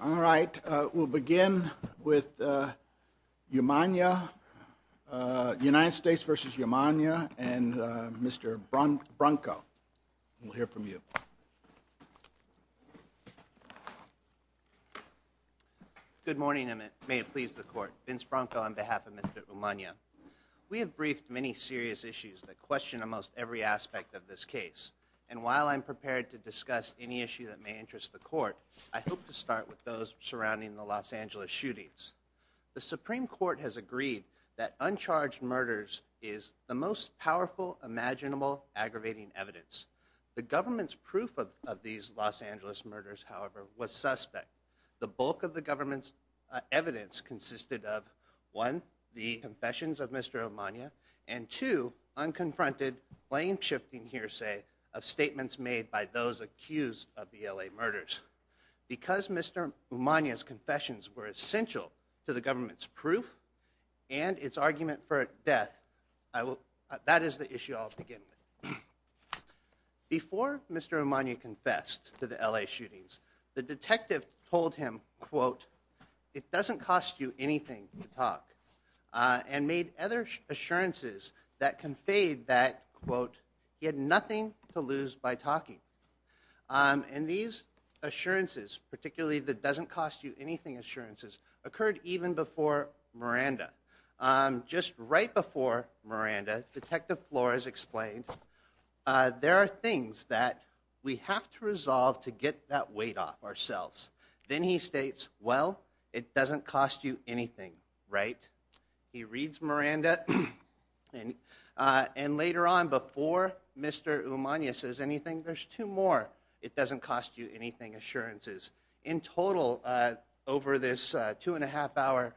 All right, we'll begin with Umana, United States v. Umana, and Mr. Bronco. We'll hear from you. Good morning, and may it please the Court. Vince Bronco on behalf of Mr. Umana. We have briefed many serious issues that question almost every aspect of this case, and while I'm prepared to discuss any issue that may interest the Court, I hope to start with those surrounding the Los Angeles shootings. The Supreme Court has agreed that uncharged murders is the most powerful, imaginable, aggravating evidence. The government's proof of these Los Angeles murders, however, was suspect. The bulk of the government's evidence consisted of, one, the confessions of Mr. Umana, and two, unconfronted, blame-shifting hearsay of statements made by those accused of the LA murders. Because Mr. Umana's confessions were essential to the government's proof and its argument for death, that is the issue I'll begin with. Before Mr. Umana confessed to the LA shootings, the detective told him, quote, it doesn't cost you anything to talk, and made other assurances that conveyed that, quote, he had nothing to lose by talking. And these assurances, particularly the doesn't cost you anything assurances, occurred even before Miranda. Just right before Miranda, Detective Flores explained, there are things that we have to resolve to get that weight off ourselves. Then he states, well, it doesn't cost you anything, right? He reads Miranda, and later on, before Mr. Umana says anything, there's two more it doesn't cost you anything assurances. In total, over this two and a half hour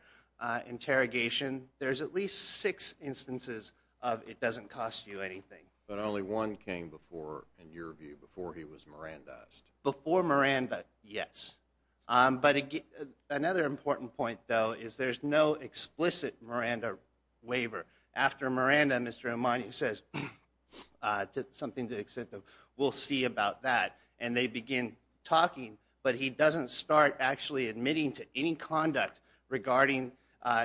interrogation, there's at least six instances of it doesn't cost you anything. But only one came before, in your view, before he was Miranda-ed. Before Miranda, yes. But another important point, though, is there's no explicit Miranda waiver. After Miranda, Mr. Umana says, something to the extent that we'll see about that, and they begin talking, but he doesn't start actually admitting to any conduct regarding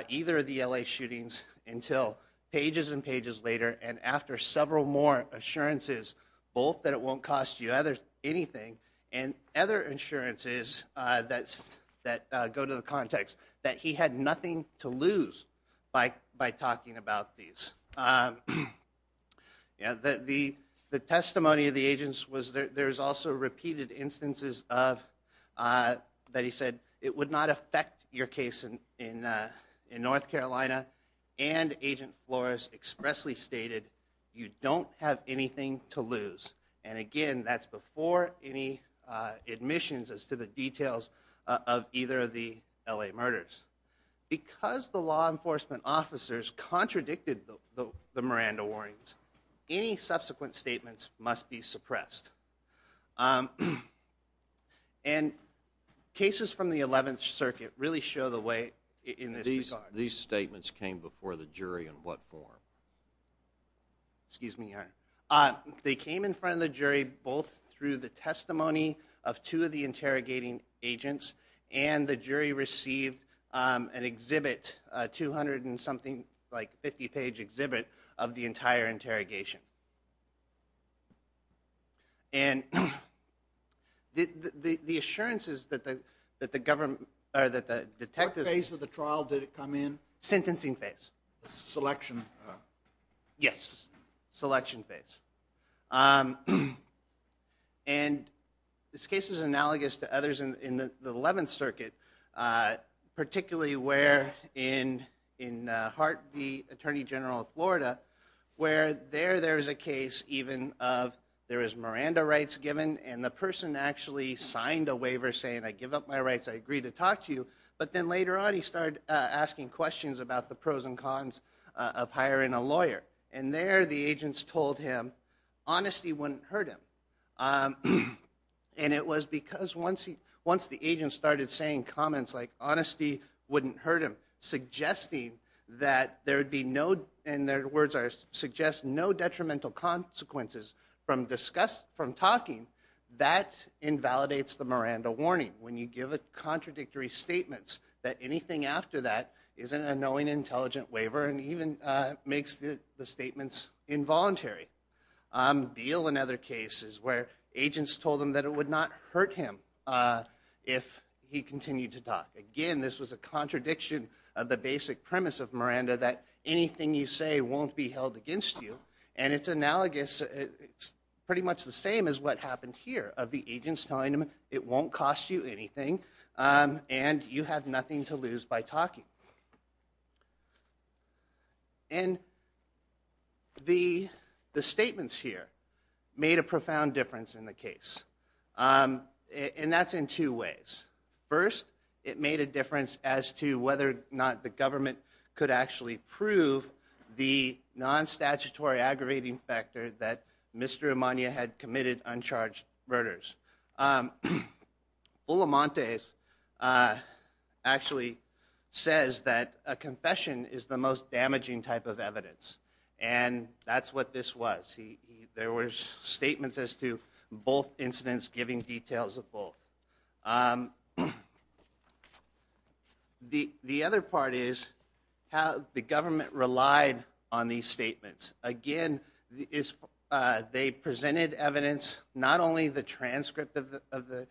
either of the LA shootings until pages and pages later, and after several more assurances, both that it won't cost you anything, and other assurances that go to the context that he had nothing to lose by talking about these. The testimony of the agents was there's also repeated instances of, that he said, it would not affect your case in North Carolina, and Agent Flores expressly stated, you don't have anything to lose. And again, that's before any admissions as to the details of either of the LA murders. Because the law enforcement officers contradicted the Miranda warnings, any subsequent statements must be suppressed. And cases from the 11th Circuit really show the way in this regard. These statements came before the jury in what form? Excuse me, Your Honor. They came in front of the jury both through the testimony of two of the interrogating agents, and the jury received an exhibit, a 200 and something, like 50-page exhibit of the entire interrogation. And the assurances that the government, or that the detectives... What phase of the trial did it come in? Sentencing phase. Selection? Yes. Selection phase. And this case is analogous to others in the 11th Circuit, particularly where in Hart v. Attorney General of Florida, where there, there is a case even of, there is Miranda rights given, and the person actually signed a waiver saying, I give up my rights, I agree to talk to you. But then later on, he started asking questions about the pros and cons of hiring a lawyer. And there, the agents told him, honesty wouldn't hurt him. And it was because once he, once the agents started saying comments like, honesty wouldn't hurt him, suggesting that there would be no, and their words are, suggest no detrimental consequences from discussed, from talking, that invalidates the Miranda warning. When you give a contradictory statement that anything after that is an unknowing, intelligent waiver, and even makes the statements involuntary. Beale and other cases where agents told him that it would not hurt him if he continued to talk. Again, this was a contradiction of the basic premise of Miranda, that anything you say won't be held against you, and it's analogous, it's pretty much the same as what happened here, of the agents telling him, it won't cost you anything, and you have nothing to lose by talking. And the statements here made a profound difference in the case. And that's in two ways. First, it made a difference as to whether or not the government could actually prove the non-statutory aggravating factor that Mr. Amania had committed uncharged murders. Olamontes actually says that a confession is the most damaging type of evidence, and that's what this was. There were statements as to both incidents giving details of both. The other part is how the government relied on these statements. Again, they presented evidence, not only the transcript of the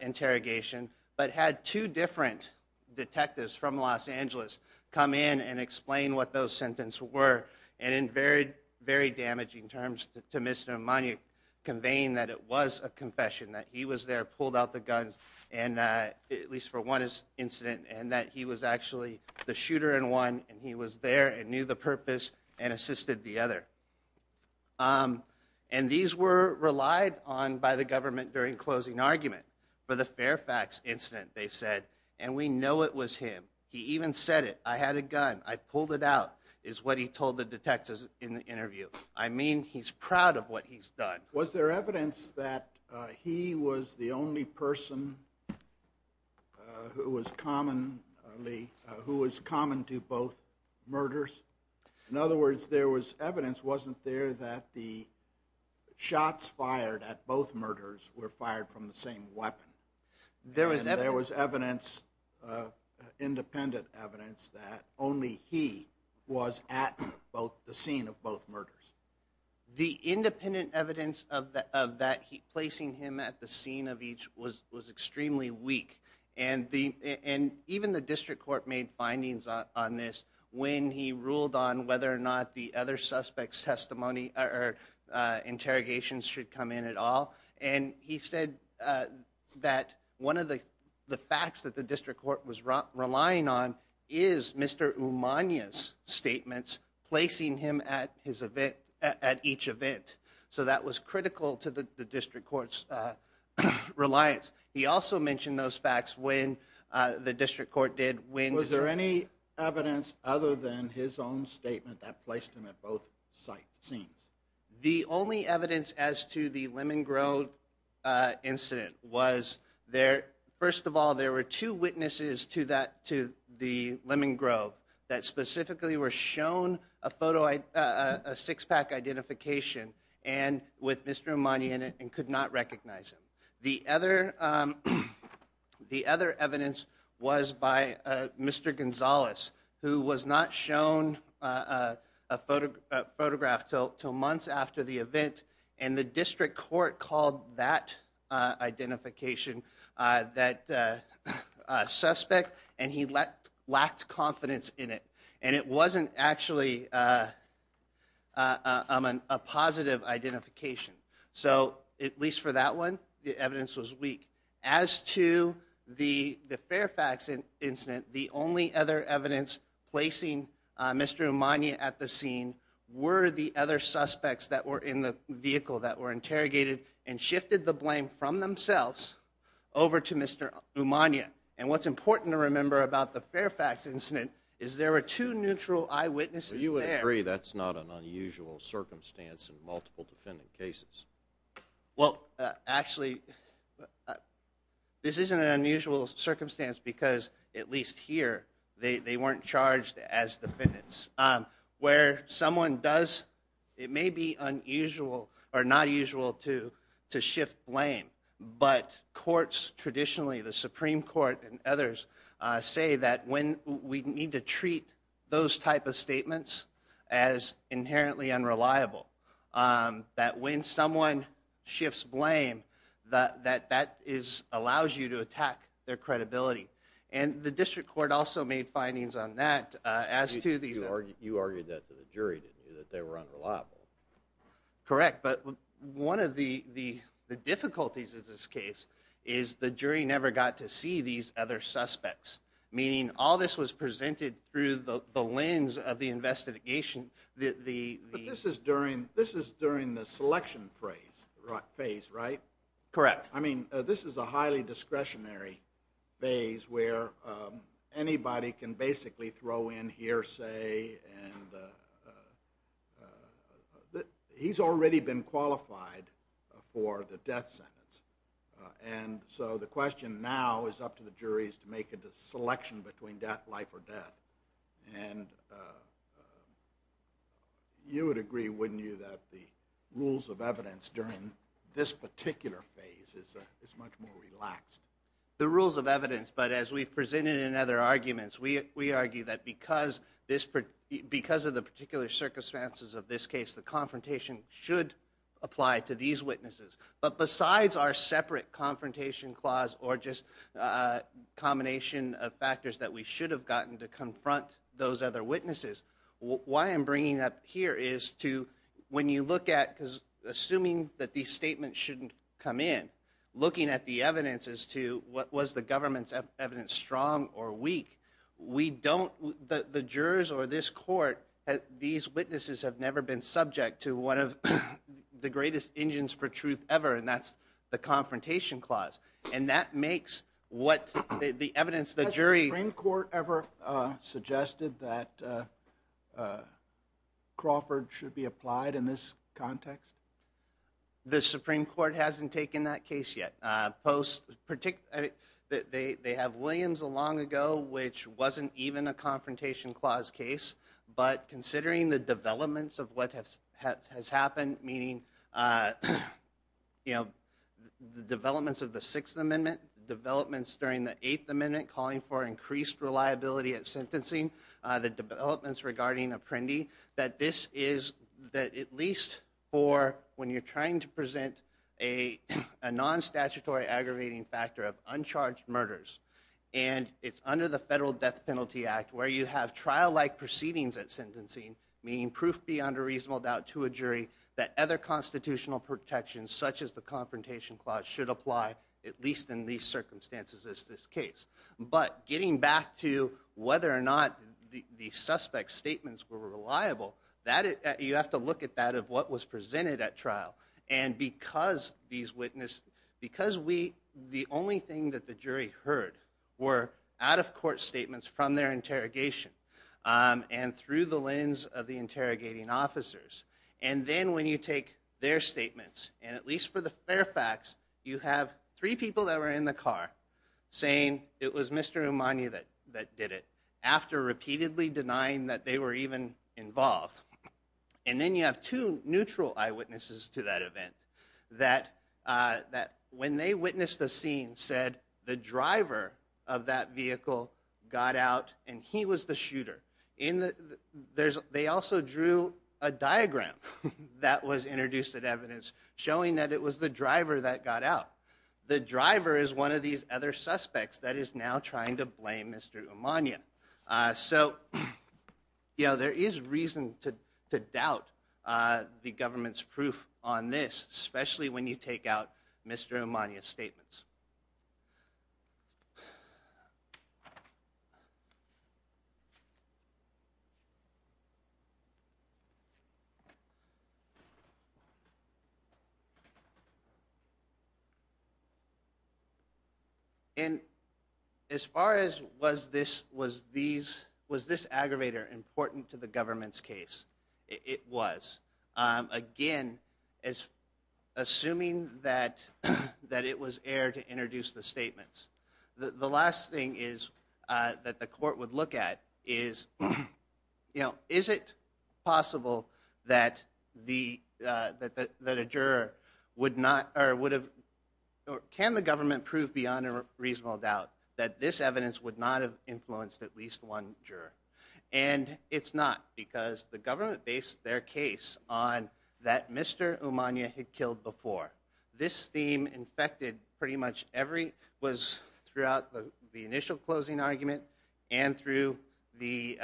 interrogation, but had two different detectives from Los Angeles come in and explain what those sentences were, and in very damaging terms to Mr. Amania, conveying that it was a confession, that he was there, pulled out the guns, at least for one incident, and that he was actually the purpose and assisted the other. And these were relied on by the government during closing argument for the Fairfax incident, they said, and we know it was him. He even said it. I had a gun. I pulled it out, is what he told the detectives in the interview. I mean, he's proud of what he's done. Was there evidence that he was the only person who was common to both murders? In other words, there was evidence, wasn't there, that the shots fired at both murders were fired from the same weapon? There was independent evidence that only he was at the scene of both murders. The independent evidence of placing him at the scene of each was extremely weak. And even the district court made findings on this when he ruled on whether or not the other suspects' interrogations should come in at all. And he said that one of the facts that the district court was relying on is Mr. Amania's statements, placing him at each event. So that was critical to the district court's reliance. He also mentioned those facts when the district court did. Was there any evidence other than his own statement that placed him at both sight scenes? The only evidence as to the Lemon Grove incident was there, first of all, there were two witnesses to the Lemon Grove that specifically were shown a six-pack identification with Mr. Amania in it and could not recognize him. The other evidence was by Mr. Gonzalez, who was not shown a photograph until months after the event, and the district court called that identification a suspect, and he lacked confidence in it. And it wasn't actually a positive identification. So at least for that one, the evidence was weak. As to the Fairfax incident, the only other evidence placing Mr. Amania at the scene were the other suspects that were in the vehicle that were interrogated and shifted the blame from themselves over to Mr. Amania. And what's important to remember about the Fairfax incident is there were two neutral eyewitnesses there. You would agree that's not an unusual circumstance in multiple defendant cases. Well, actually, this isn't an unusual circumstance because, at least here, they weren't charged as defendants. Where someone does, it may be unusual or not usual to shift blame, but courts traditionally, the Supreme Court and others, say that when we need to treat those type of statements as inherently unreliable, that when someone shifts blame, that that allows you to attack their credibility. And the district court also made findings on that. You argued that to the jury, didn't you, that they were unreliable? Correct. But one of the difficulties of this case is the jury never got to see these other suspects, meaning all this was presented through the lens of the investigation. This is during the selection phase, right? Correct. This is a highly discretionary phase where anybody can basically throw in hearsay and he's already been qualified for the death sentence. And so the question now is up to the jury to make a selection between life or death. And you would agree, wouldn't you, that the rules of evidence during this particular phase is much more relaxed? The rules of evidence, but as we've presented in other arguments, we argue that because of the particular circumstances of this case, the confrontation should apply to these witnesses. But besides our separate confrontation clause or just a combination of factors that we should have gotten to confront those other witnesses, why I'm bringing up here is to, when you look at, because assuming that these statements shouldn't come in, looking at the evidence as to what was the government's evidence, strong or weak, we don't, the jurors or this court, these witnesses have never been subject to one of the greatest engines for truth ever, and that's the confrontation clause. And that makes what the evidence, the jury... Has the Supreme Court ever suggested that Crawford should be applied in this context? The Supreme Court hasn't taken that case yet. They have Williams a long ago, which wasn't even a confrontation clause case, but considering the developments of what has happened, meaning the developments of the Sixth Amendment, developments during the Eighth Amendment calling for increased reliability at sentencing, the developments regarding Apprendi, that this is, that at least in these circumstances is this case. But getting back to whether or not the suspect's at trial, and because these witnesses, because we, the only thing that the jury heard were out of court statements from their interrogation, and through the lens of the interrogating officers, and then when you take their statements, and at least for the fair facts, you have three people that were in the car saying it was Mr. Amani that did it, after repeatedly denying that they were even involved. And then you have two neutral eyewitnesses to that event, that when they witnessed the scene, said the driver of that vehicle got out, and he was the shooter. They also drew a diagram that was introduced at evidence, showing that it was the driver that got out. The driver is one of these other suspects that is now trying to blame Mr. Amani. So, you know, there is reason to doubt the government's proof on this, especially when you take out Mr. Amani's statements. And as far as was this aggravator important to the government's case, it was. Again, assuming that it was air to introduce the statements. The last thing is that the court would look at is, you know, is it possible that the, that a juror would not, or would have, can the government prove beyond a reasonable doubt that this evidence would not have influenced at least one juror? And it's not, because the government based their case on that Mr. Amani had killed before. This theme infected pretty much every, was throughout the initial closing argument and through the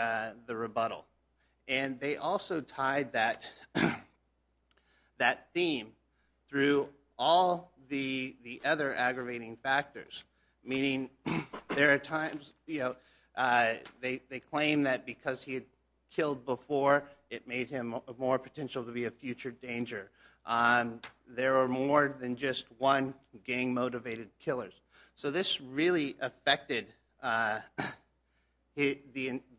rebuttal. And they also tied that, that theme through all the other aggravating factors, meaning there are times, you know, they claim that because he had killed before, it made him more potential to be a future danger. There are more than just one gang motivated killers. So this really affected the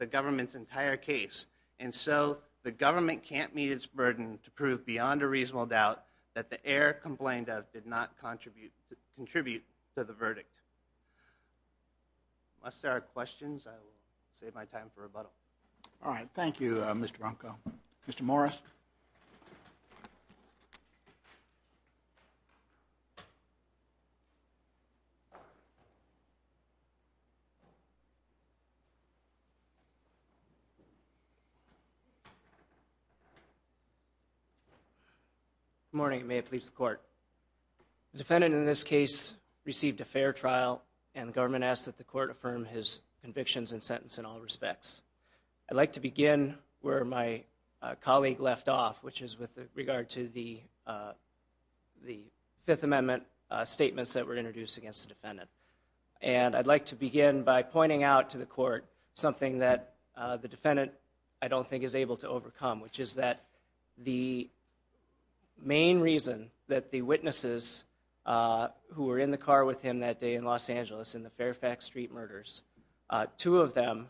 government's entire case. And so the government can't meet its burden to prove beyond a reasonable doubt that the air complained of did not contribute to the verdict. Unless there are questions, I will save my time for rebuttal. All right. Thank you, Mr. Ronco. Mr. Morris. Good morning. May it please the court. The defendant in this case received a fair trial and the government asked that the court affirm his convictions and sentence in all respects. I'd like to begin where my colleague left off, which is with regard to the Fifth Amendment statements that were introduced against the defendant. And I'd like to begin by pointing out to the court something that the defendant I don't think is able to overcome, which is that the main reason that the witnesses who were in the car with him that day in Los Angeles in the Fairfax Street murders, two of them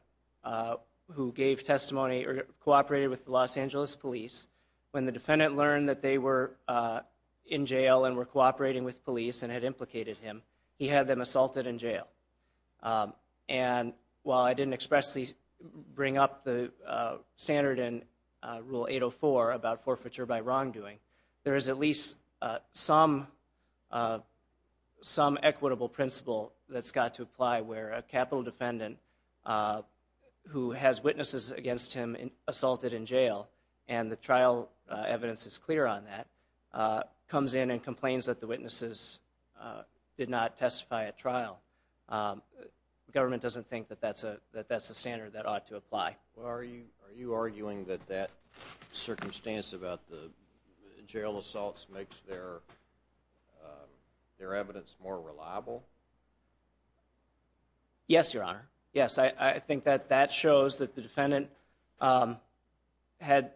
who gave testimony or cooperated with the Los Angeles police, when the defendant learned that they were in jail and were cooperating with police and had implicated him, he had them assaulted in jail. And while I didn't expressly bring up the standard in Rule 804 about forfeiture by wrongdoing, there is at least some equitable principle that's got to apply where a capital defendant who has witnesses against him assaulted in jail, and the trial evidence is clear on that, comes in and complains that the witnesses did not testify at trial. The government doesn't think that that's a standard that ought to apply. Well, are you arguing that that circumstance about the jail assaults makes their evidence more reliable? Yes, Your Honor. Yes, I think that that shows that the defendant had,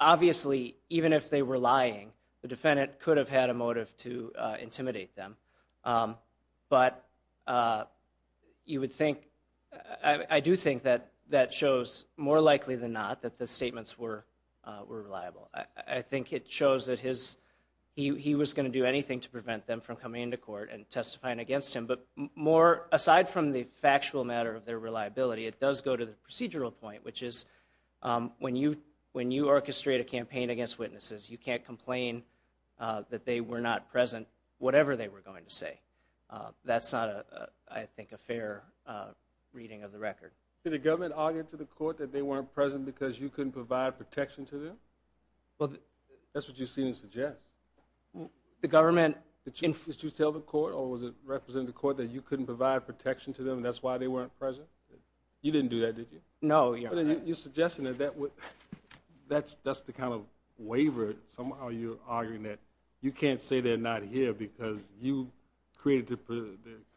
obviously, even if they were lying, the defendant could have had a motive to intimidate them. But you would think, I do think that that shows more likely than not that the statements were reliable. I think it shows that he was going to do anything to prevent them from coming into court and testifying against him. But more aside from the factual matter of their reliability, it does go to the procedural point, which is when you orchestrate a campaign against witnesses, you can't complain that they were not present, whatever they were going to say. That's not, I think, a fair reading of the record. Did the government argue to the court that they weren't present because you couldn't provide protection to them? That's what you seem to suggest. Did you tell the court or was it representing the court that you couldn't provide protection to them and that's why they weren't present? You didn't do that, did you? No, Your Honor. You're suggesting that that's the kind of waiver. Somehow you're arguing that you can't say they're not here because you created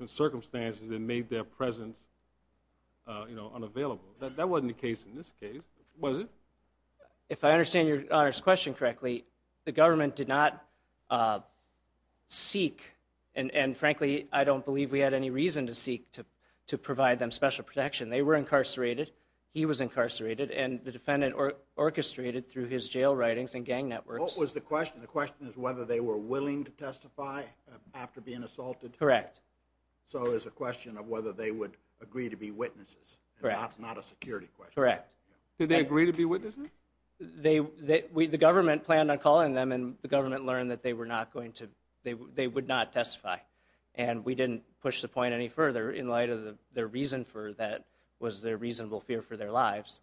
the circumstances that made their presence unavailable. That wasn't the case in this case, was it? If I understand Your Honor's question correctly, the government did not seek, and frankly I don't believe we had any reason to seek, to provide them special protection. They were incarcerated, he was incarcerated, and the defendant orchestrated through his jail writings and gang networks. What was the question? The question is whether they were willing to testify after being assaulted? Correct. So it's a question of whether they would agree to be witnesses, not a security question. Correct. Did they agree to be witnesses? The government planned on calling them and the government learned that they would not testify and we didn't push the point any further in light of their reason for that was their reasonable fear for their lives,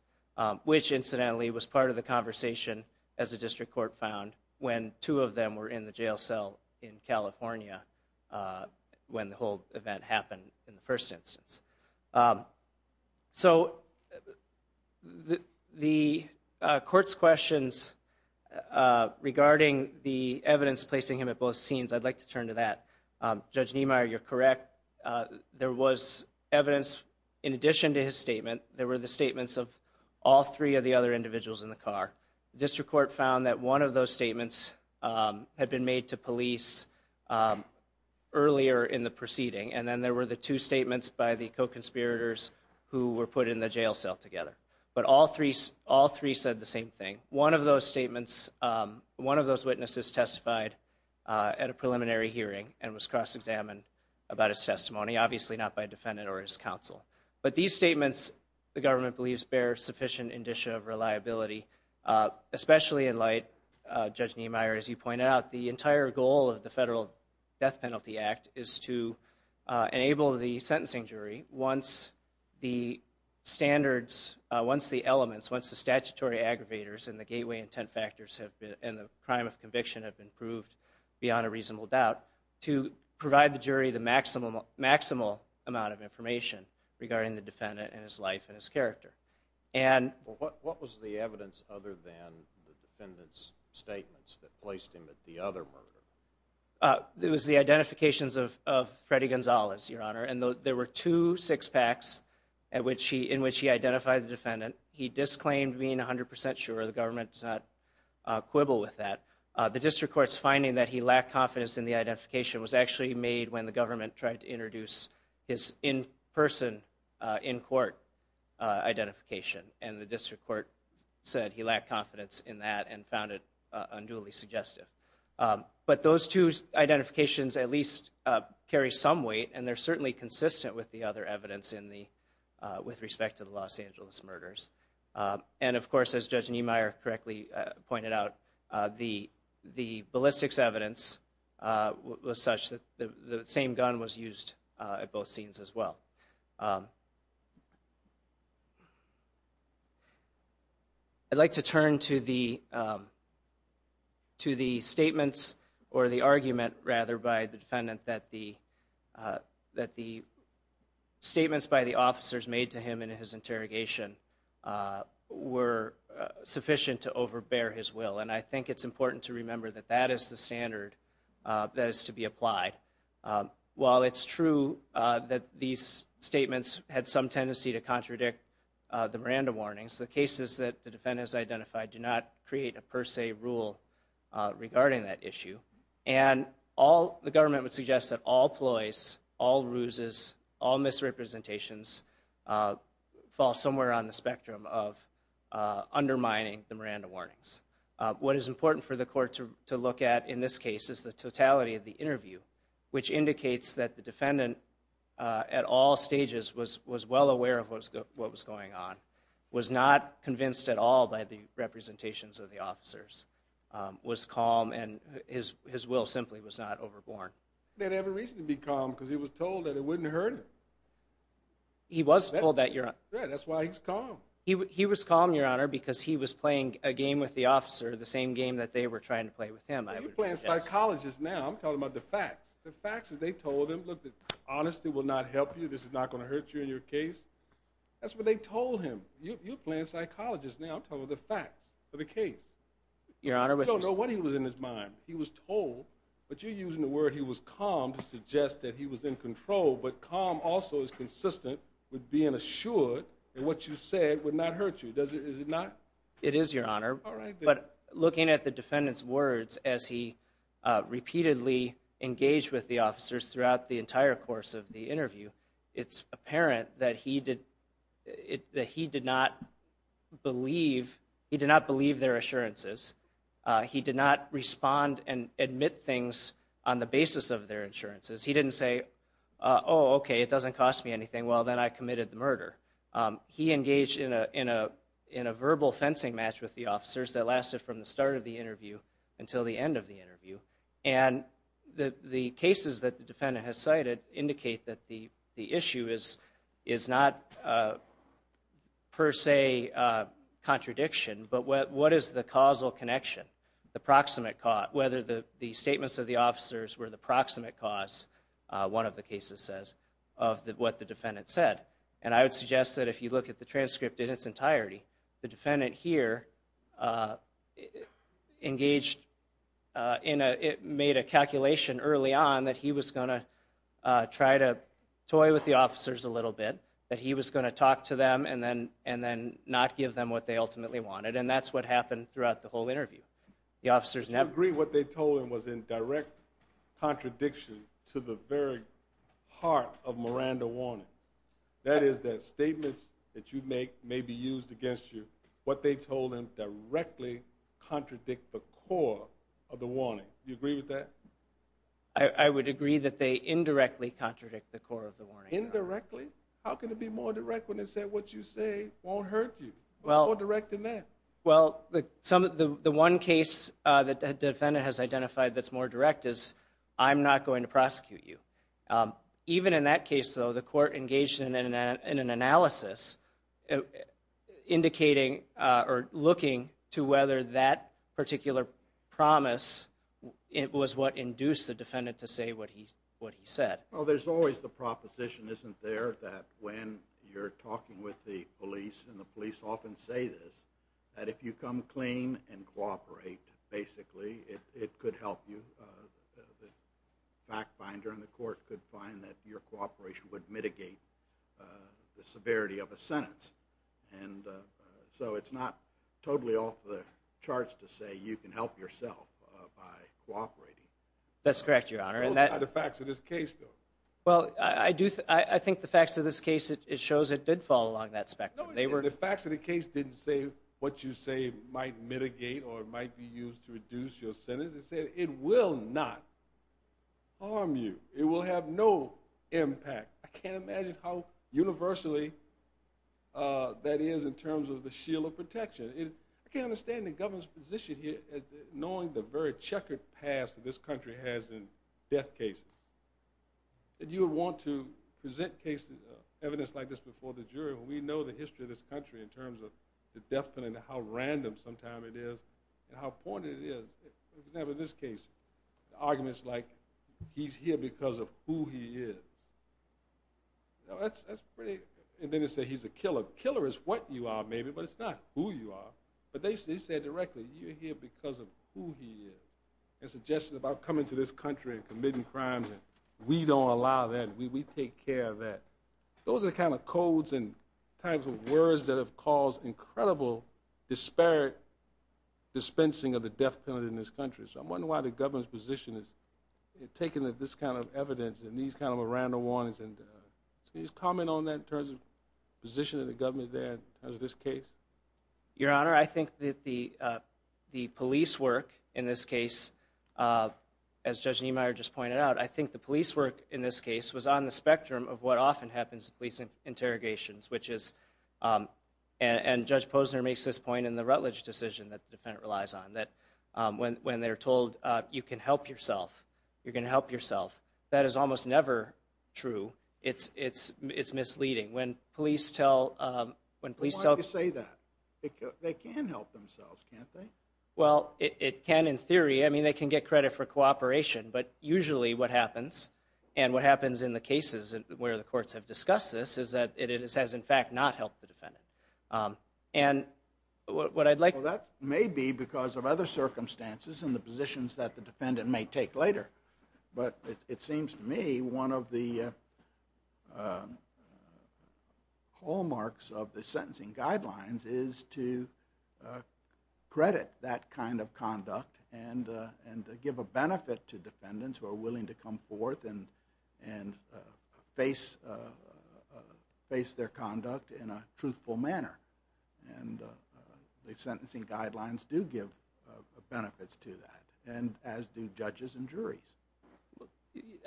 which incidentally was part of the conversation, as the district court found, when two of them were in the jail cell in California when the whole event happened in the first instance. So the court's questions regarding the evidence placing him at both scenes, I'd like to turn to that. Judge Niemeyer, you're correct. There was evidence in addition to his statement, there were other individuals in the car. The district court found that one of those statements had been made to police earlier in the proceeding and then there were the two statements by the co-conspirators who were put in the jail cell together. But all three said the same thing. One of those statements, one of those witnesses testified at a preliminary hearing and was cross-examined about his testimony, obviously not by a defendant or his counsel. But these statements, the government believes, bear sufficient indicia of reliability, especially in light, Judge Niemeyer, as you pointed out, the entire goal of the Federal Death Penalty Act is to enable the sentencing jury, once the standards, once the elements, once the statutory aggravators and the gateway intent factors and the crime of conviction have been proved beyond a reasonable doubt, to provide the jury the maximal amount of information regarding the defendant and his life and his character. What was the evidence other than the defendant's statements that placed him at the other murder? It was the identifications of Freddy Gonzalez, Your Honor, and there were two six-packs in which he identified the defendant. He disclaimed being 100% sure. The government does not quibble with that. The district court's finding that he lacked confidence in the identification was actually made when the government tried to introduce his in-person, in-court identification, and the district court said he lacked confidence in that and found it unduly suggestive. But those two identifications at least carry some weight, and they're certainly consistent with the other evidence in the, with respect to the Los Angeles murders. And of course, as Judge Niemeyer correctly pointed out, the, the ballistics evidence was such that the same gun was used at both scenes as well. I'd like to turn to the, to the statements, or the argument, rather, by the defendant that the, that the statements by the officers made to him in his interrogation were sufficient to overbear his will. And I think it's important to remember that that is the standard that is to be applied. While it's true that these statements had some tendency to contradict the Miranda warnings, the cases that the defendant has identified do not create a per se rule regarding that issue. And all, the government would suggest that all ploys, all ruses, all misrepresentations fall somewhere on the spectrum of undermining the Miranda warnings. What is important for the court to look at in this case is the totality of the interview, which indicates that the defendant at all stages was, was well aware of what was going on, was not convinced at all by the representations of the officers, was calm, and his, his will simply was not overborne. He didn't have a reason to be calm because he was told that it wouldn't hurt him. He was told that, Your Honor. Yeah, that's why he's calm. He was calm, Your Honor, because he was playing a game with the officer, the same game that they were trying to play with him, I would suggest. You're playing a psychologist now. I'm talking about the facts. The facts that they told him, look, that honesty will not help you, this is not going to hurt you in your case. That's what they told him. You're playing a psychologist now. I'm talking about the facts of the case. Your Honor, we don't know what he was in his mind. He was told, but you're using the word he was calm to suggest that he was in control, but calm also is consistent with being assured that what you said would not hurt you. Does it, is it not? It is, Your Honor. But looking at the defendant's words as he repeatedly engaged with the officers throughout the entire course of the interview, it's apparent that he did, that he did not believe, he did not believe their assurances. He did not respond and admit things on the basis of their insurances. He didn't say, oh, okay, it doesn't cost me anything, well, then I committed the murder. He engaged in a verbal fencing match with the officers that lasted from the start of the interview until the end of the interview. And the cases that the defendant has cited indicate that the issue is not per se contradiction, but what is the causal connection, the proximate cause, whether the statements of the officers were the proximate cause, one of the cases says, of what the defendant said. And I would suggest that if you look at the transcript in its entirety, the defendant here engaged in a, made a calculation early on that he was going to try to toy with the officers a little bit, that he was going to talk to them and then, and then not give them what they ultimately wanted. And that's what happened throughout the whole interview. The officers never- I agree what they told him was in direct contradiction to the very heart of Miranda Warner. That is that statements that you make may be used against you. What they told him directly contradict the core of the warning. Do you agree with that? I would agree that they indirectly contradict the core of the warning. Indirectly? How can it be more direct when they said what you say won't hurt you? Well- What's more direct than that? Well, some of the, the one case that the defendant has identified that's more direct is, I'm not going to prosecute you. Even in that case, though, the court engaged in an analysis indicating, or looking to whether that particular promise, it was what induced the defendant to say what he, what he said. Well, there's always the proposition, isn't there, that when you're talking with the police, and the police often say this, that if you come clean and cooperate, basically, it could help you. The fact finder in the court could find that your cooperation would mitigate the severity of a sentence. And so, it's not totally off the charts to say you can help yourself by cooperating. That's correct, Your Honor. And that- What about the facts of this case, though? Well, I do, I think the facts of this case, it shows it did fall along that spectrum. They were- The facts of the case didn't say what you say might mitigate or might be used to reduce your sentence. It said it will not harm you. It will have no impact. I can't imagine how universally that is in terms of the shield of protection. I can't understand the government's position here, knowing the very checkered past that this country has in death cases, that you would want to present cases, evidence like this before the jury when we know the history of this country in terms of the death penalty and how random sometimes it is, and how pointed it is. For example, in this case, the argument's like, he's here because of who he is. You know, that's pretty- and then they say he's a killer. Killer is what you are, maybe, but it's not who you are. But they said directly, you're here because of who he is, and suggested about coming to this country and committing crimes, and we don't allow that, we take care of that. Those are the kind of codes and types of words that have caused incredible disparate dispensing of the death penalty in this country. So I'm wondering why the government's position is taking this kind of evidence and these kind of random warnings, and can you just comment on that in terms of the position of the government there in terms of this case? Your Honor, I think that the police work in this case, as Judge Niemeyer just pointed out, I think the police work in this case was on the spectrum of what often happens in police interrogations, which is- and Judge Posner makes this point in the Rutledge decision that the defendant relies on, that when they're told, you can help yourself, you're going to help yourself, that is almost never true. It's misleading. When police tell- Why do you say that? They can help themselves, can't they? Well, it can in theory, I mean they can get credit for cooperation, but usually what happens, and what happens in the cases where the courts have discussed this, is that it has in fact not helped the defendant. And what I'd like- Well, that may be because of other circumstances and the positions that the defendant may take later, but it seems to me one of the hallmarks of the sentencing guidelines is to credit that kind of conduct and give a benefit to defendants who are willing to come forth and face their conduct in a truthful manner. And the sentencing guidelines do give benefits to that, and as do judges and juries.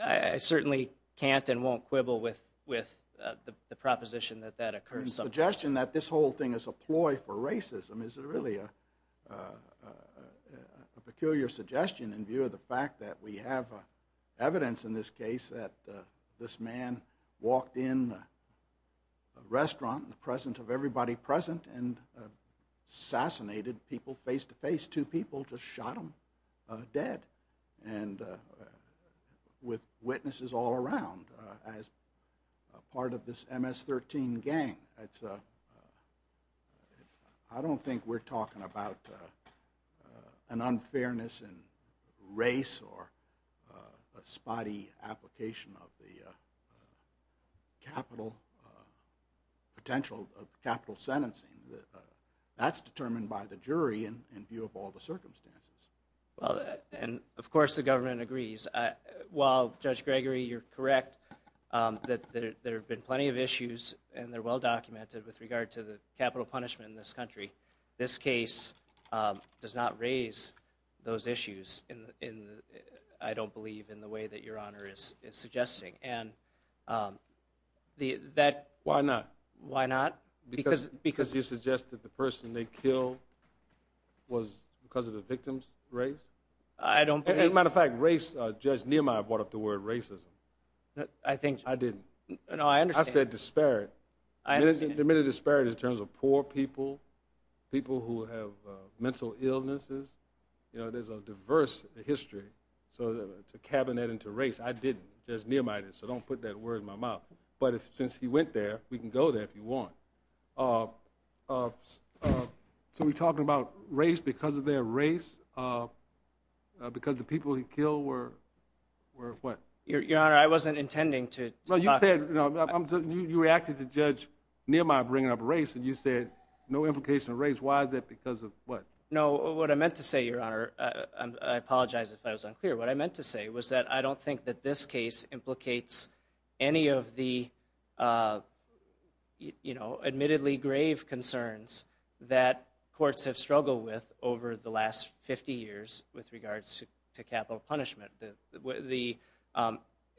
I certainly can't and won't quibble with the proposition that that occurs sometimes. The suggestion that this whole thing is a ploy for racism is really a peculiar suggestion in view of the fact that we have evidence in this case that this man walked in a restaurant in the presence of everybody present and assassinated people face to face. Two people just shot him dead. And with witnesses all around as part of this MS-13 gang, I don't think we're talking about an unfairness in race or a spotty application of the capital, potential capital sentencing. That's determined by the jury in view of all the circumstances. And of course the government agrees. While Judge Gregory, you're correct that there have been plenty of issues and they're well raised, those issues, I don't believe, in the way that Your Honor is suggesting. And that... Why not? Why not? Because... Because... Because you suggest that the person they killed was because of the victim's race? I don't believe... As a matter of fact, race, Judge Nehemiah brought up the word racism. I think... I didn't. No, I understand. I said disparate. There may be a disparity in terms of poor people, people who have mental illnesses. You know, there's a diverse history. So to cabinet and to race, I didn't. Judge Nehemiah did. So don't put that word in my mouth. But since he went there, we can go there if you want. So we're talking about race because of their race? Because the people he killed were... Were what? Your Honor, I wasn't intending to... Well, you said... You reacted to Judge Nehemiah bringing up race and you said no implication of race. Why is that? Because of what? No, what I meant to say, Your Honor, I apologize if I was unclear. What I meant to say was that I don't think that this case implicates any of the, you know, admittedly grave concerns that courts have struggled with over the last 50 years with regards to capital punishment. The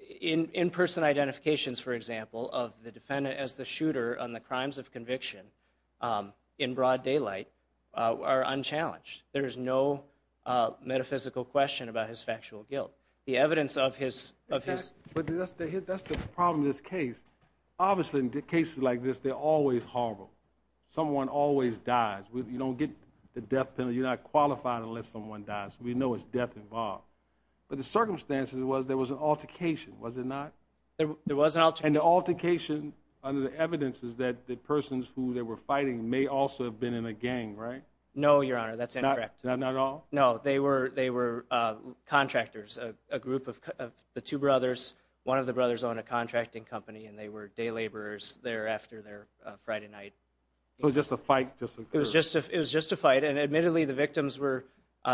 in-person identifications, for example, of the defendant as the shooter on the crimes of conviction in broad daylight are unchallenged. There's no metaphysical question about his factual guilt. The evidence of his... In fact, that's the problem with this case. Obviously, in cases like this, they're always horrible. Someone always dies. You don't get the death penalty. You're not qualified unless someone dies. We know it's death involved. But the circumstances was there was an altercation, was it not? There was an altercation. And the altercation, under the evidence, is that the persons who they were fighting may also have been in a gang, right? No, Your Honor. That's incorrect. Not at all? No. They were contractors. A group of the two brothers. One of the brothers owned a contracting company and they were day laborers thereafter their Friday night. So it was just a fight that just occurred. It was just a fight. And admittedly, the victims were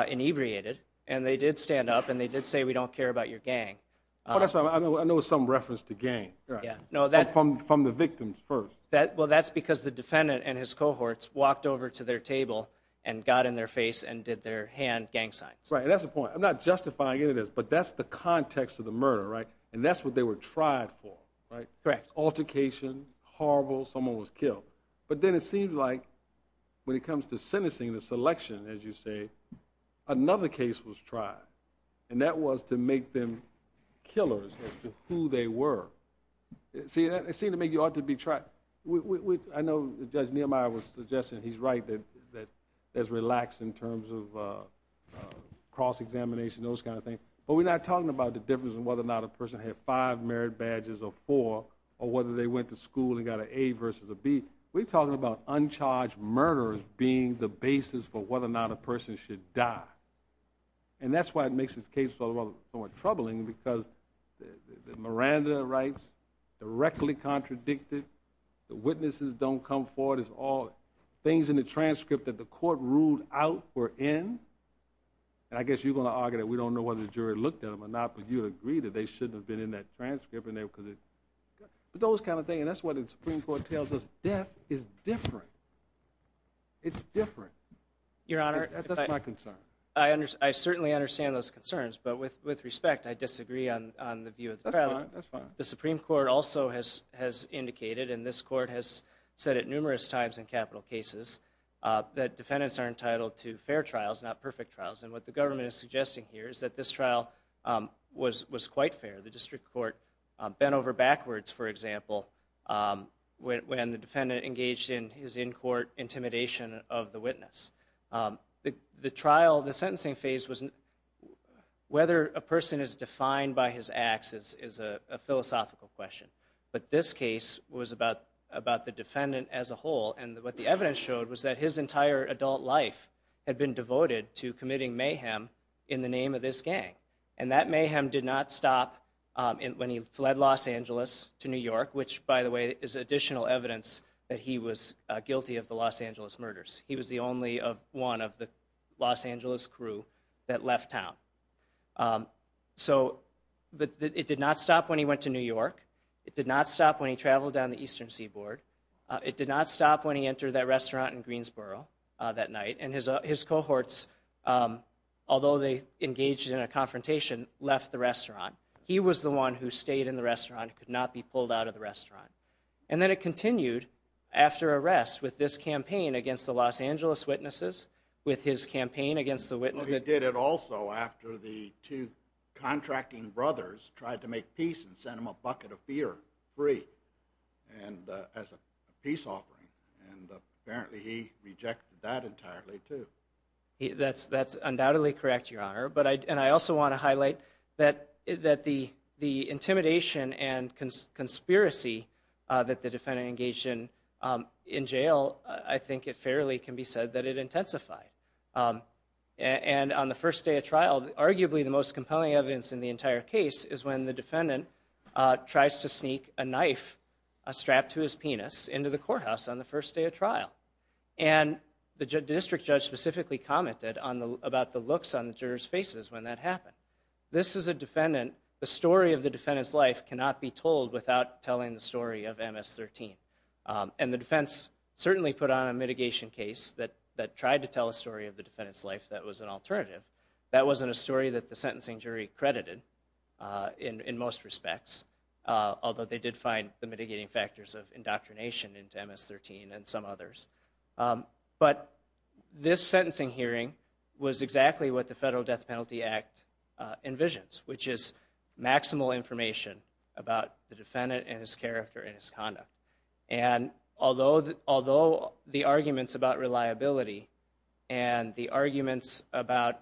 inebriated and they did stand up and they did say, we don't care about your gang. I know it's some reference to gang. From the victims first. Well, that's because the defendant and his cohorts walked over to their table and got in their face and did their hand gang signs. Right. And that's the point. I'm not justifying any of this, but that's the context of the murder, right? And that's what they were tried for, right? Correct. Altercation. Horrible. Someone was killed. But then it seems like when it comes to sentencing, the selection, as you say, another case was tried. And that was to make them killers as to who they were. See, it seemed to me you ought to be tried. I know Judge Nehemiah was suggesting he's right that there's relaxed in terms of cross-examination, those kind of things. But we're not talking about the difference in whether or not a person had five merit versus a B. We're talking about uncharged murder as being the basis for whether or not a person should die. And that's why it makes this case somewhat troubling because Miranda writes directly contradicted, the witnesses don't come forward as all things in the transcript that the court ruled out were in, and I guess you're going to argue that we don't know whether the jury looked at them or not, but you'd agree that they shouldn't have been in that transcript in there. But those kind of things, and that's what the Supreme Court tells us, death is different. It's different. Your Honor. That's my concern. I certainly understand those concerns, but with respect, I disagree on the view of the trial. That's fine, that's fine. The Supreme Court also has indicated, and this court has said it numerous times in capital cases, that defendants are entitled to fair trials, not perfect trials. And what the government is suggesting here is that this trial was quite fair. The district court bent over backwards, for example, when the defendant engaged in his in-court intimidation of the witness. The trial, the sentencing phase, whether a person is defined by his acts is a philosophical question. But this case was about the defendant as a whole, and what the evidence showed was that his entire adult life had been devoted to committing mayhem in the name of this gang. And that mayhem did not stop when he fled Los Angeles to New York, which, by the way, is additional evidence that he was guilty of the Los Angeles murders. He was the only one of the Los Angeles crew that left town. So it did not stop when he went to New York. It did not stop when he traveled down the Eastern Seaboard. It did not stop when he entered that restaurant in Greensboro that night. And his cohorts, although they engaged in a confrontation, left the restaurant. He was the one who stayed in the restaurant, could not be pulled out of the restaurant. And then it continued after arrest with this campaign against the Los Angeles witnesses, with his campaign against the witnesses. He did it also after the two contracting brothers tried to make peace and sent him a bucket of beer, free, as a peace offering. And apparently he rejected that entirely, too. That's undoubtedly correct, Your Honor. And I also want to highlight that the intimidation and conspiracy that the defendant engaged in in jail, I think it fairly can be said that it intensified. And on the first day of trial, arguably the most compelling evidence in the entire case is when the defendant tries to sneak a knife strapped to his penis into the courthouse on the first day of trial. And the district judge specifically commented about the looks on the jurors' faces when that happened. This is a defendant, the story of the defendant's life cannot be told without telling the story of MS-13. And the defense certainly put on a mitigation case that tried to tell a story of the defendant's life that was an alternative. That wasn't a story that the sentencing jury credited in most respects, although they did find the mitigating factors of indoctrination into MS-13 and some others. But this sentencing hearing was exactly what the Federal Death Penalty Act envisions, which is maximal information about the defendant and his character and his conduct. And although the arguments about reliability and the arguments about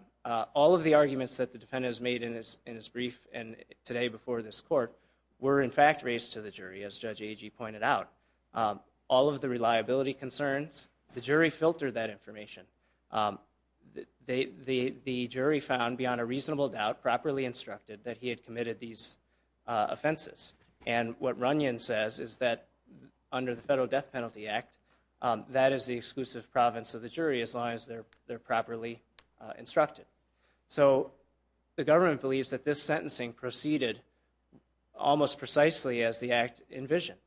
all of the arguments that the defendants made in his brief and today before this court were in fact raised to the jury, as Judge Agee pointed out, all of the reliability concerns, the jury filtered that information. The jury found beyond a reasonable doubt properly instructed that he had committed these offenses. And what Runyon says is that under the Federal Death Penalty Act, that is the exclusive province of the jury as long as they're properly instructed. So the government believes that this sentencing proceeded almost precisely as the act envisioned.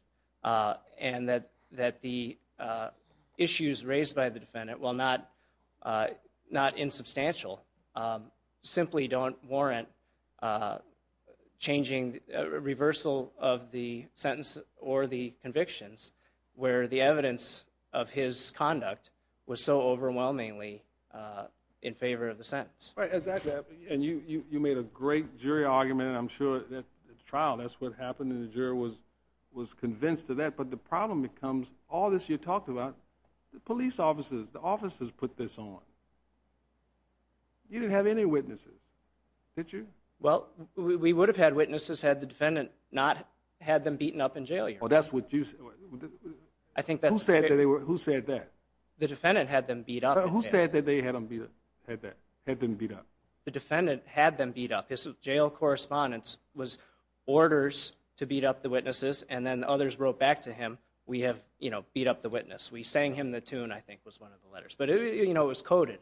And that the issues raised by the defendant, while not insubstantial, simply don't warrant a reversal of the sentence or the convictions where the evidence of his conduct was so overwhelmingly in favor of the sentence. Right. Exactly. And you made a great jury argument, I'm sure, at the trial. That's what happened. And the jury was convinced of that. But the problem becomes, all this you talked about, the police officers, the officers put this on. You didn't have any witnesses, did you? Well, we would have had witnesses had the defendant not had them beaten up and jailed. Well, that's what you said. I think that's... Who said that? The defendant had them beat up. Who said that they had them beat up? The defendant had them beat up. His jail correspondence was orders to beat up the witnesses. And then others wrote back to him, we have beat up the witness. We sang him the tune, I think was one of the letters. But it was coded.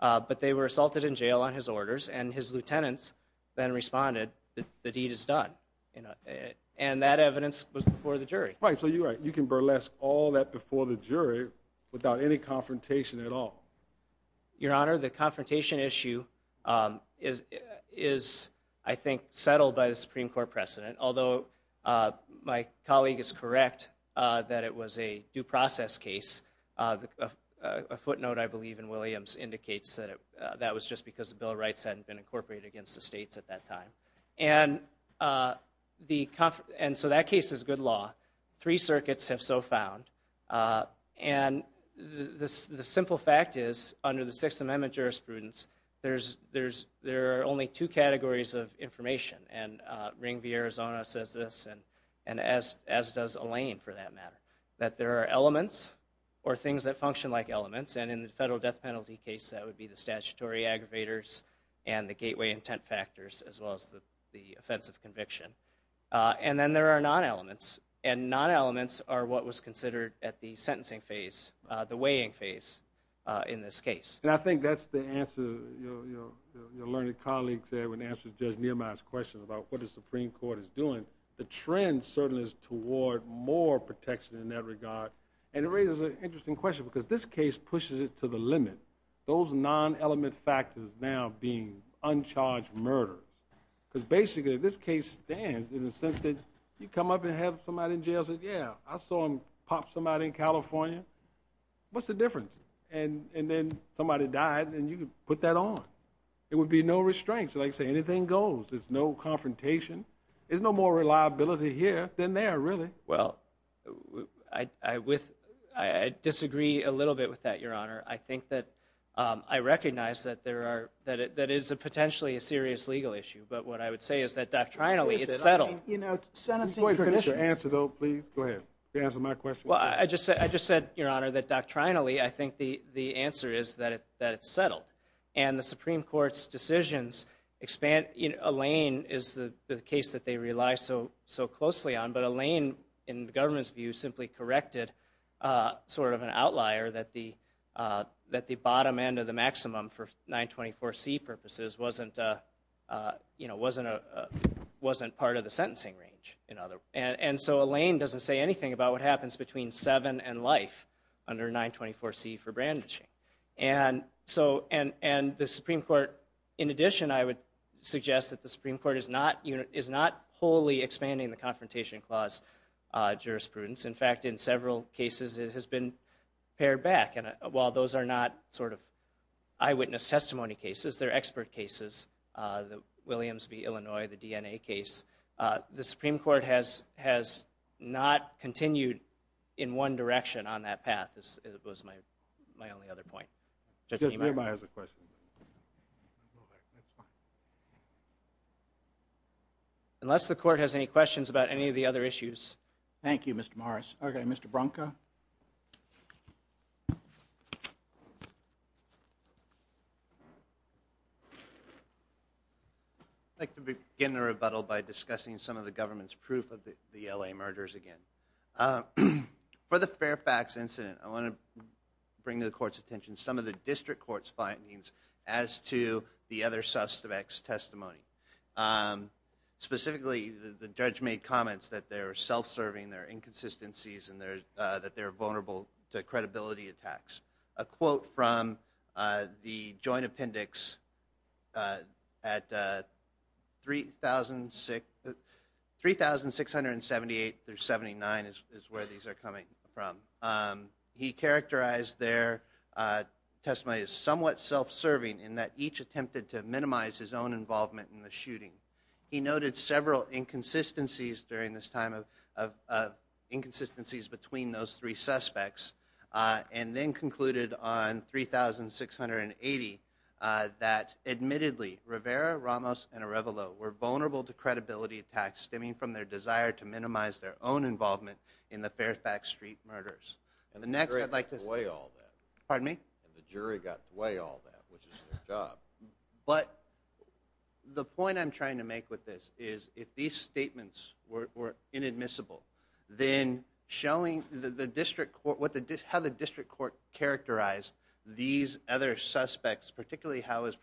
But they were assaulted in jail on his orders. And his lieutenants then responded that the deed is done. And that evidence was before the jury. Right. So you're right. You can burlesque all that before the jury without any confrontation at all. Your Honor, the confrontation issue is, I think, settled by the Supreme Court precedent. Although my colleague is correct that it was a due process case. A footnote, I believe, in Williams indicates that that was just because the Bill of Rights hadn't been incorporated against the states at that time. And so that case is good law. Three circuits have so found. And the simple fact is, under the Sixth Amendment jurisprudence, there are only two categories of information. And Ring v. Arizona says this, and as does Elaine, for that matter. That there are elements, or things that function like elements, and in the federal death penalty case, that would be the statutory aggravators and the gateway intent factors, as well as the offense of conviction. And then there are non-elements. And non-elements are what was considered at the sentencing phase, the weighing phase, in this case. And I think that's the answer your learned colleague said when he answered Judge Nehemiah's question about what the Supreme Court is doing. The trend, certainly, is toward more protection in that regard. And it raises an interesting question, because this case pushes it to the limit. Those non-element factors now being uncharged murder, because basically, this case stands in the sense that you come up and have somebody in jail say, yeah, I saw him pop somebody in California. What's the difference? And then somebody died, and you put that on. It would be no restraints. Like I say, anything goes. There's no confrontation. There's no more reliability here than there, really. Well, I disagree a little bit with that, Your Honor. I think that I recognize that it is potentially a serious legal issue. But what I would say is that doctrinally, it's settled. Mr. Boies, can I get your answer, though, please? Go ahead. Can you answer my question? Well, I just said, Your Honor, that doctrinally, I think the answer is that it's settled. And the Supreme Court's decisions expand. Elaine is the case that they rely so closely on. But Elaine, in the government's view, simply corrected sort of an outlier that the bottom end of the maximum for 924C purposes wasn't part of the sentencing range. And so Elaine doesn't say anything about what happens between 7 and life under 924C for brandishing. And the Supreme Court, in addition, I would suggest that the Supreme Court is not wholly expanding the Confrontation Clause jurisprudence. In fact, in several cases, it has been pared back. While those are not sort of eyewitness testimony cases, they're expert cases, the Williams v. Illinois, the DNA case. The Supreme Court has not continued in one direction on that path, is my only other point. Judge Niemeyer. Judge Niemeyer has a question. Go ahead. That's fine. Unless the Court has any questions about any of the other issues. Thank you, Mr. Morris. Okay, Mr. Branca. I'd like to begin the rebuttal by discussing some of the government's proof of the L.A. murders again. For the Fairfax incident, I want to bring to the Court's attention some of the District of Fairfax testimony. Specifically, the judge made comments that they're self-serving, there are inconsistencies, and that they're vulnerable to credibility attacks. A quote from the Joint Appendix at 3,678 through 79 is where these are coming from. He characterized their testimony as somewhat self-serving in that each attempted to minimize his own involvement in the shooting. He noted several inconsistencies during this time of inconsistencies between those three suspects and then concluded on 3,680 that, admittedly, Rivera, Ramos, and Arevalo were vulnerable to credibility attacks stemming from their desire to minimize their own involvement in the Fairfax Street murders. And the jury got away all that, which is their job. But the point I'm trying to make with this is if these statements were inadmissible, then showing how the District Court characterized these other suspects, particularly how it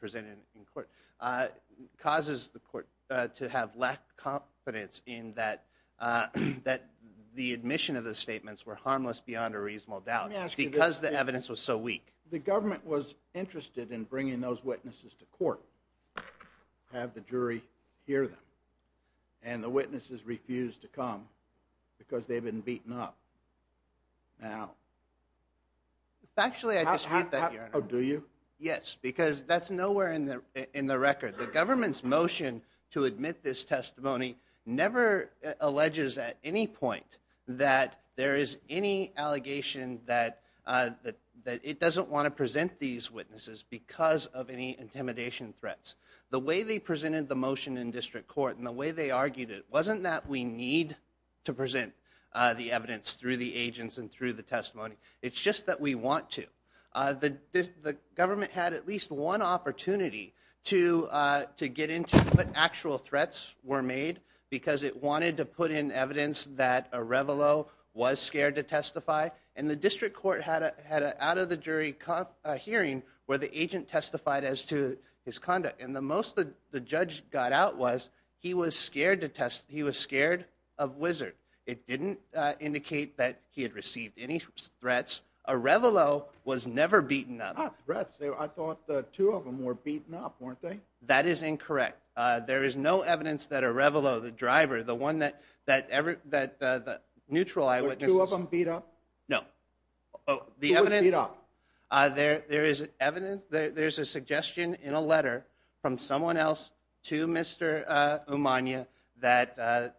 the admission of the statements were harmless beyond a reasonable doubt because the evidence was so weak. The government was interested in bringing those witnesses to court, have the jury hear them. And the witnesses refused to come because they've been beaten up. Actually, I disagree with that, Your Honor. Do you? Yes. Because that's nowhere in the record. The government's motion to admit this testimony never alleges at any point that there is any allegation that it doesn't want to present these witnesses because of any intimidation threats. The way they presented the motion in District Court and the way they argued it wasn't that we need to present the evidence through the agents and through the testimony. It's just that we want to. The government had at least one opportunity to get into what actual threats were made because it wanted to put in evidence that Arevalo was scared to testify. And the District Court had an out-of-the-jury hearing where the agent testified as to his conduct. And the most the judge got out was he was scared of Wizzard. It didn't indicate that he had received any threats. Arevalo was never beaten up. Not threats. I thought the two of them were beaten up, weren't they? That is incorrect. There is no evidence that Arevalo, the driver, the one that the neutral eyewitnesses... Were two of them beat up? No. Who was beat up? There's a suggestion in a letter from someone else to Mr. Umania that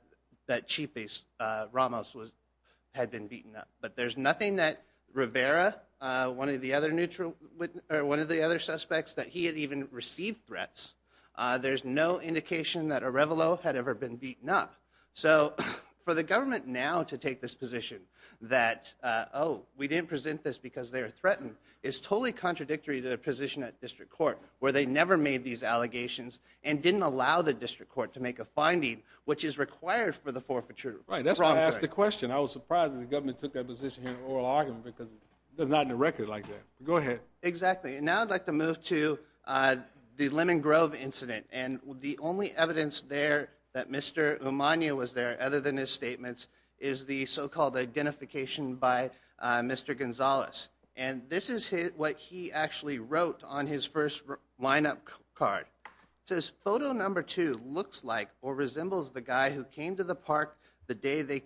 Chief Ramos had been beaten up. But there's nothing that Rivera, one of the other suspects, that he had even received threats. There's no indication that Arevalo had ever been beaten up. So for the government now to take this position that, oh, we didn't present this because they were threatened, is totally contradictory to the position at District Court where they never made these allegations and didn't allow the District Court to make a finding which is required for the forfeiture. Right. That's why I asked the question. I was surprised that the government took that position in an oral argument because it's not in the record like that. Go ahead. Exactly. And now I'd like to move to the Lemon Grove incident. And the only evidence there that Mr. Umania was there, other than his statements, is the so-called identification by Mr. Gonzalez. And this is what he actually wrote on his first line-up card. It says, photo number two looks like or resembles the guy who came to the park the day they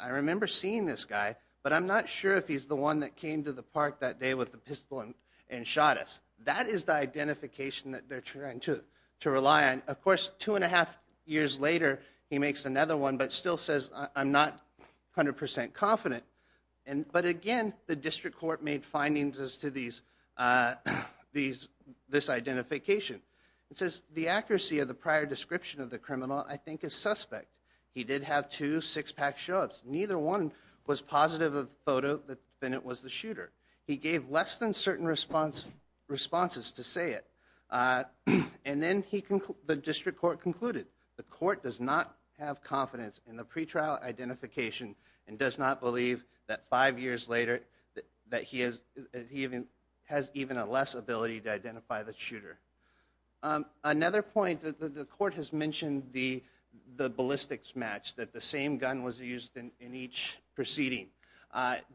I remember seeing this guy, but I'm not sure if he's the one that came to the park that day with the pistol and shot us. That is the identification that they're trying to rely on. Of course, two and a half years later, he makes another one, but still says, I'm not 100% confident. But again, the District Court made findings as to this identification. It says, the accuracy of the prior description of the criminal, I think, is suspect. He did have two six-pack show-ups. Neither one was positive of the photo that Bennett was the shooter. He gave less than certain responses to say it. And then the District Court concluded, the court does not have confidence in the pretrial identification and does not believe that five years later that he has even a less ability to identify the shooter. Another point, the court has mentioned the ballistics match, that the same gun was used in each proceeding.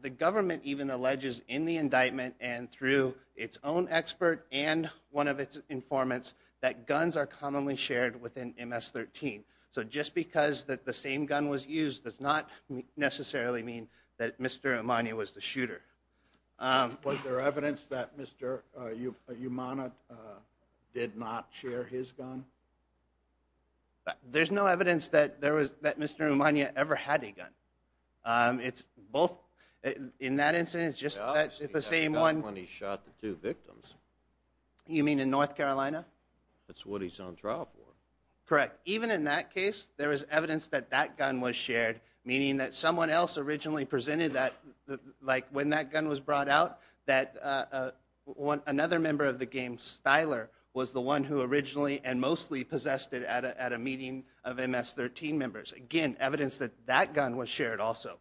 The government even alleges in the indictment and through its own expert and one of its informants that guns are commonly shared within MS-13. So just because the same gun was used does not necessarily mean that Mr. Amanio was the shooter. Was there evidence that Mr. Umanya did not share his gun? There's no evidence that Mr. Umanya ever had a gun. In that instance, it's just the same one. When he shot the two victims. You mean in North Carolina? That's what he's on trial for. Correct. Even in that case, there was evidence that that gun was shared, meaning that someone else originally presented that, like when that gun was brought out, that another member of the gang, Stiler, was the one who originally and mostly possessed it at a meeting of MS-13 members. Again, evidence that that gun was shared also.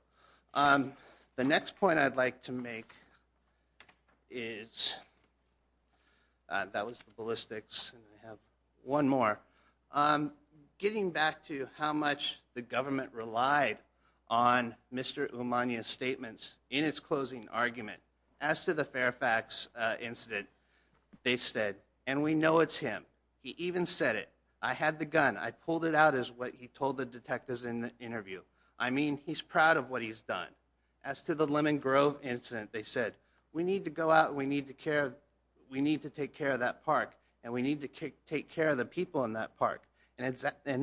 The next point I'd like to make is, that was the ballistics, and I have one more. Getting back to how much the government relied on Mr. Umanya's statements in its closing argument, as to the Fairfax incident, they said, and we know it's him, he even said it, I had the gun, I pulled it out is what he told the detectives in the interview. I mean, he's proud of what he's done. As to the Lemon Grove incident, they said, we need to go out, we need to take care of that park, and we need to take care of the people in that park. And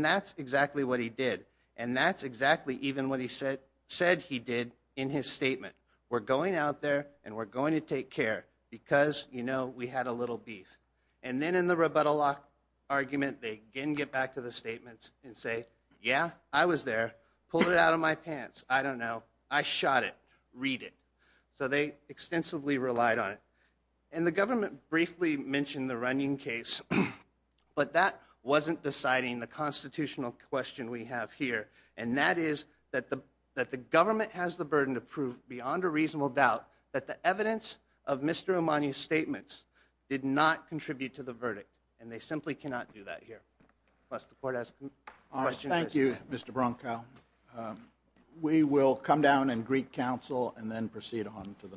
that's exactly what he did, and that's exactly even what he said he did in his statement. We're going out there, and we're going to take care, because, you know, we had a little beef. And then in the rebuttal argument, they again get back to the statements and say, yeah, I was there, pulled it out of my pants, I don't know, I shot it, read it. So they extensively relied on it. And the government briefly mentioned the Runyon case, but that wasn't deciding the constitutional question we have here, and that is that the government has the burden to prove, beyond a reasonable doubt, that the evidence of Mr. Amanya's statements did not contribute to the verdict, and they simply cannot do that here. Unless the court has questions. Thank you, Mr. Bronco. We will come down and greet counsel, and then proceed on to the next item.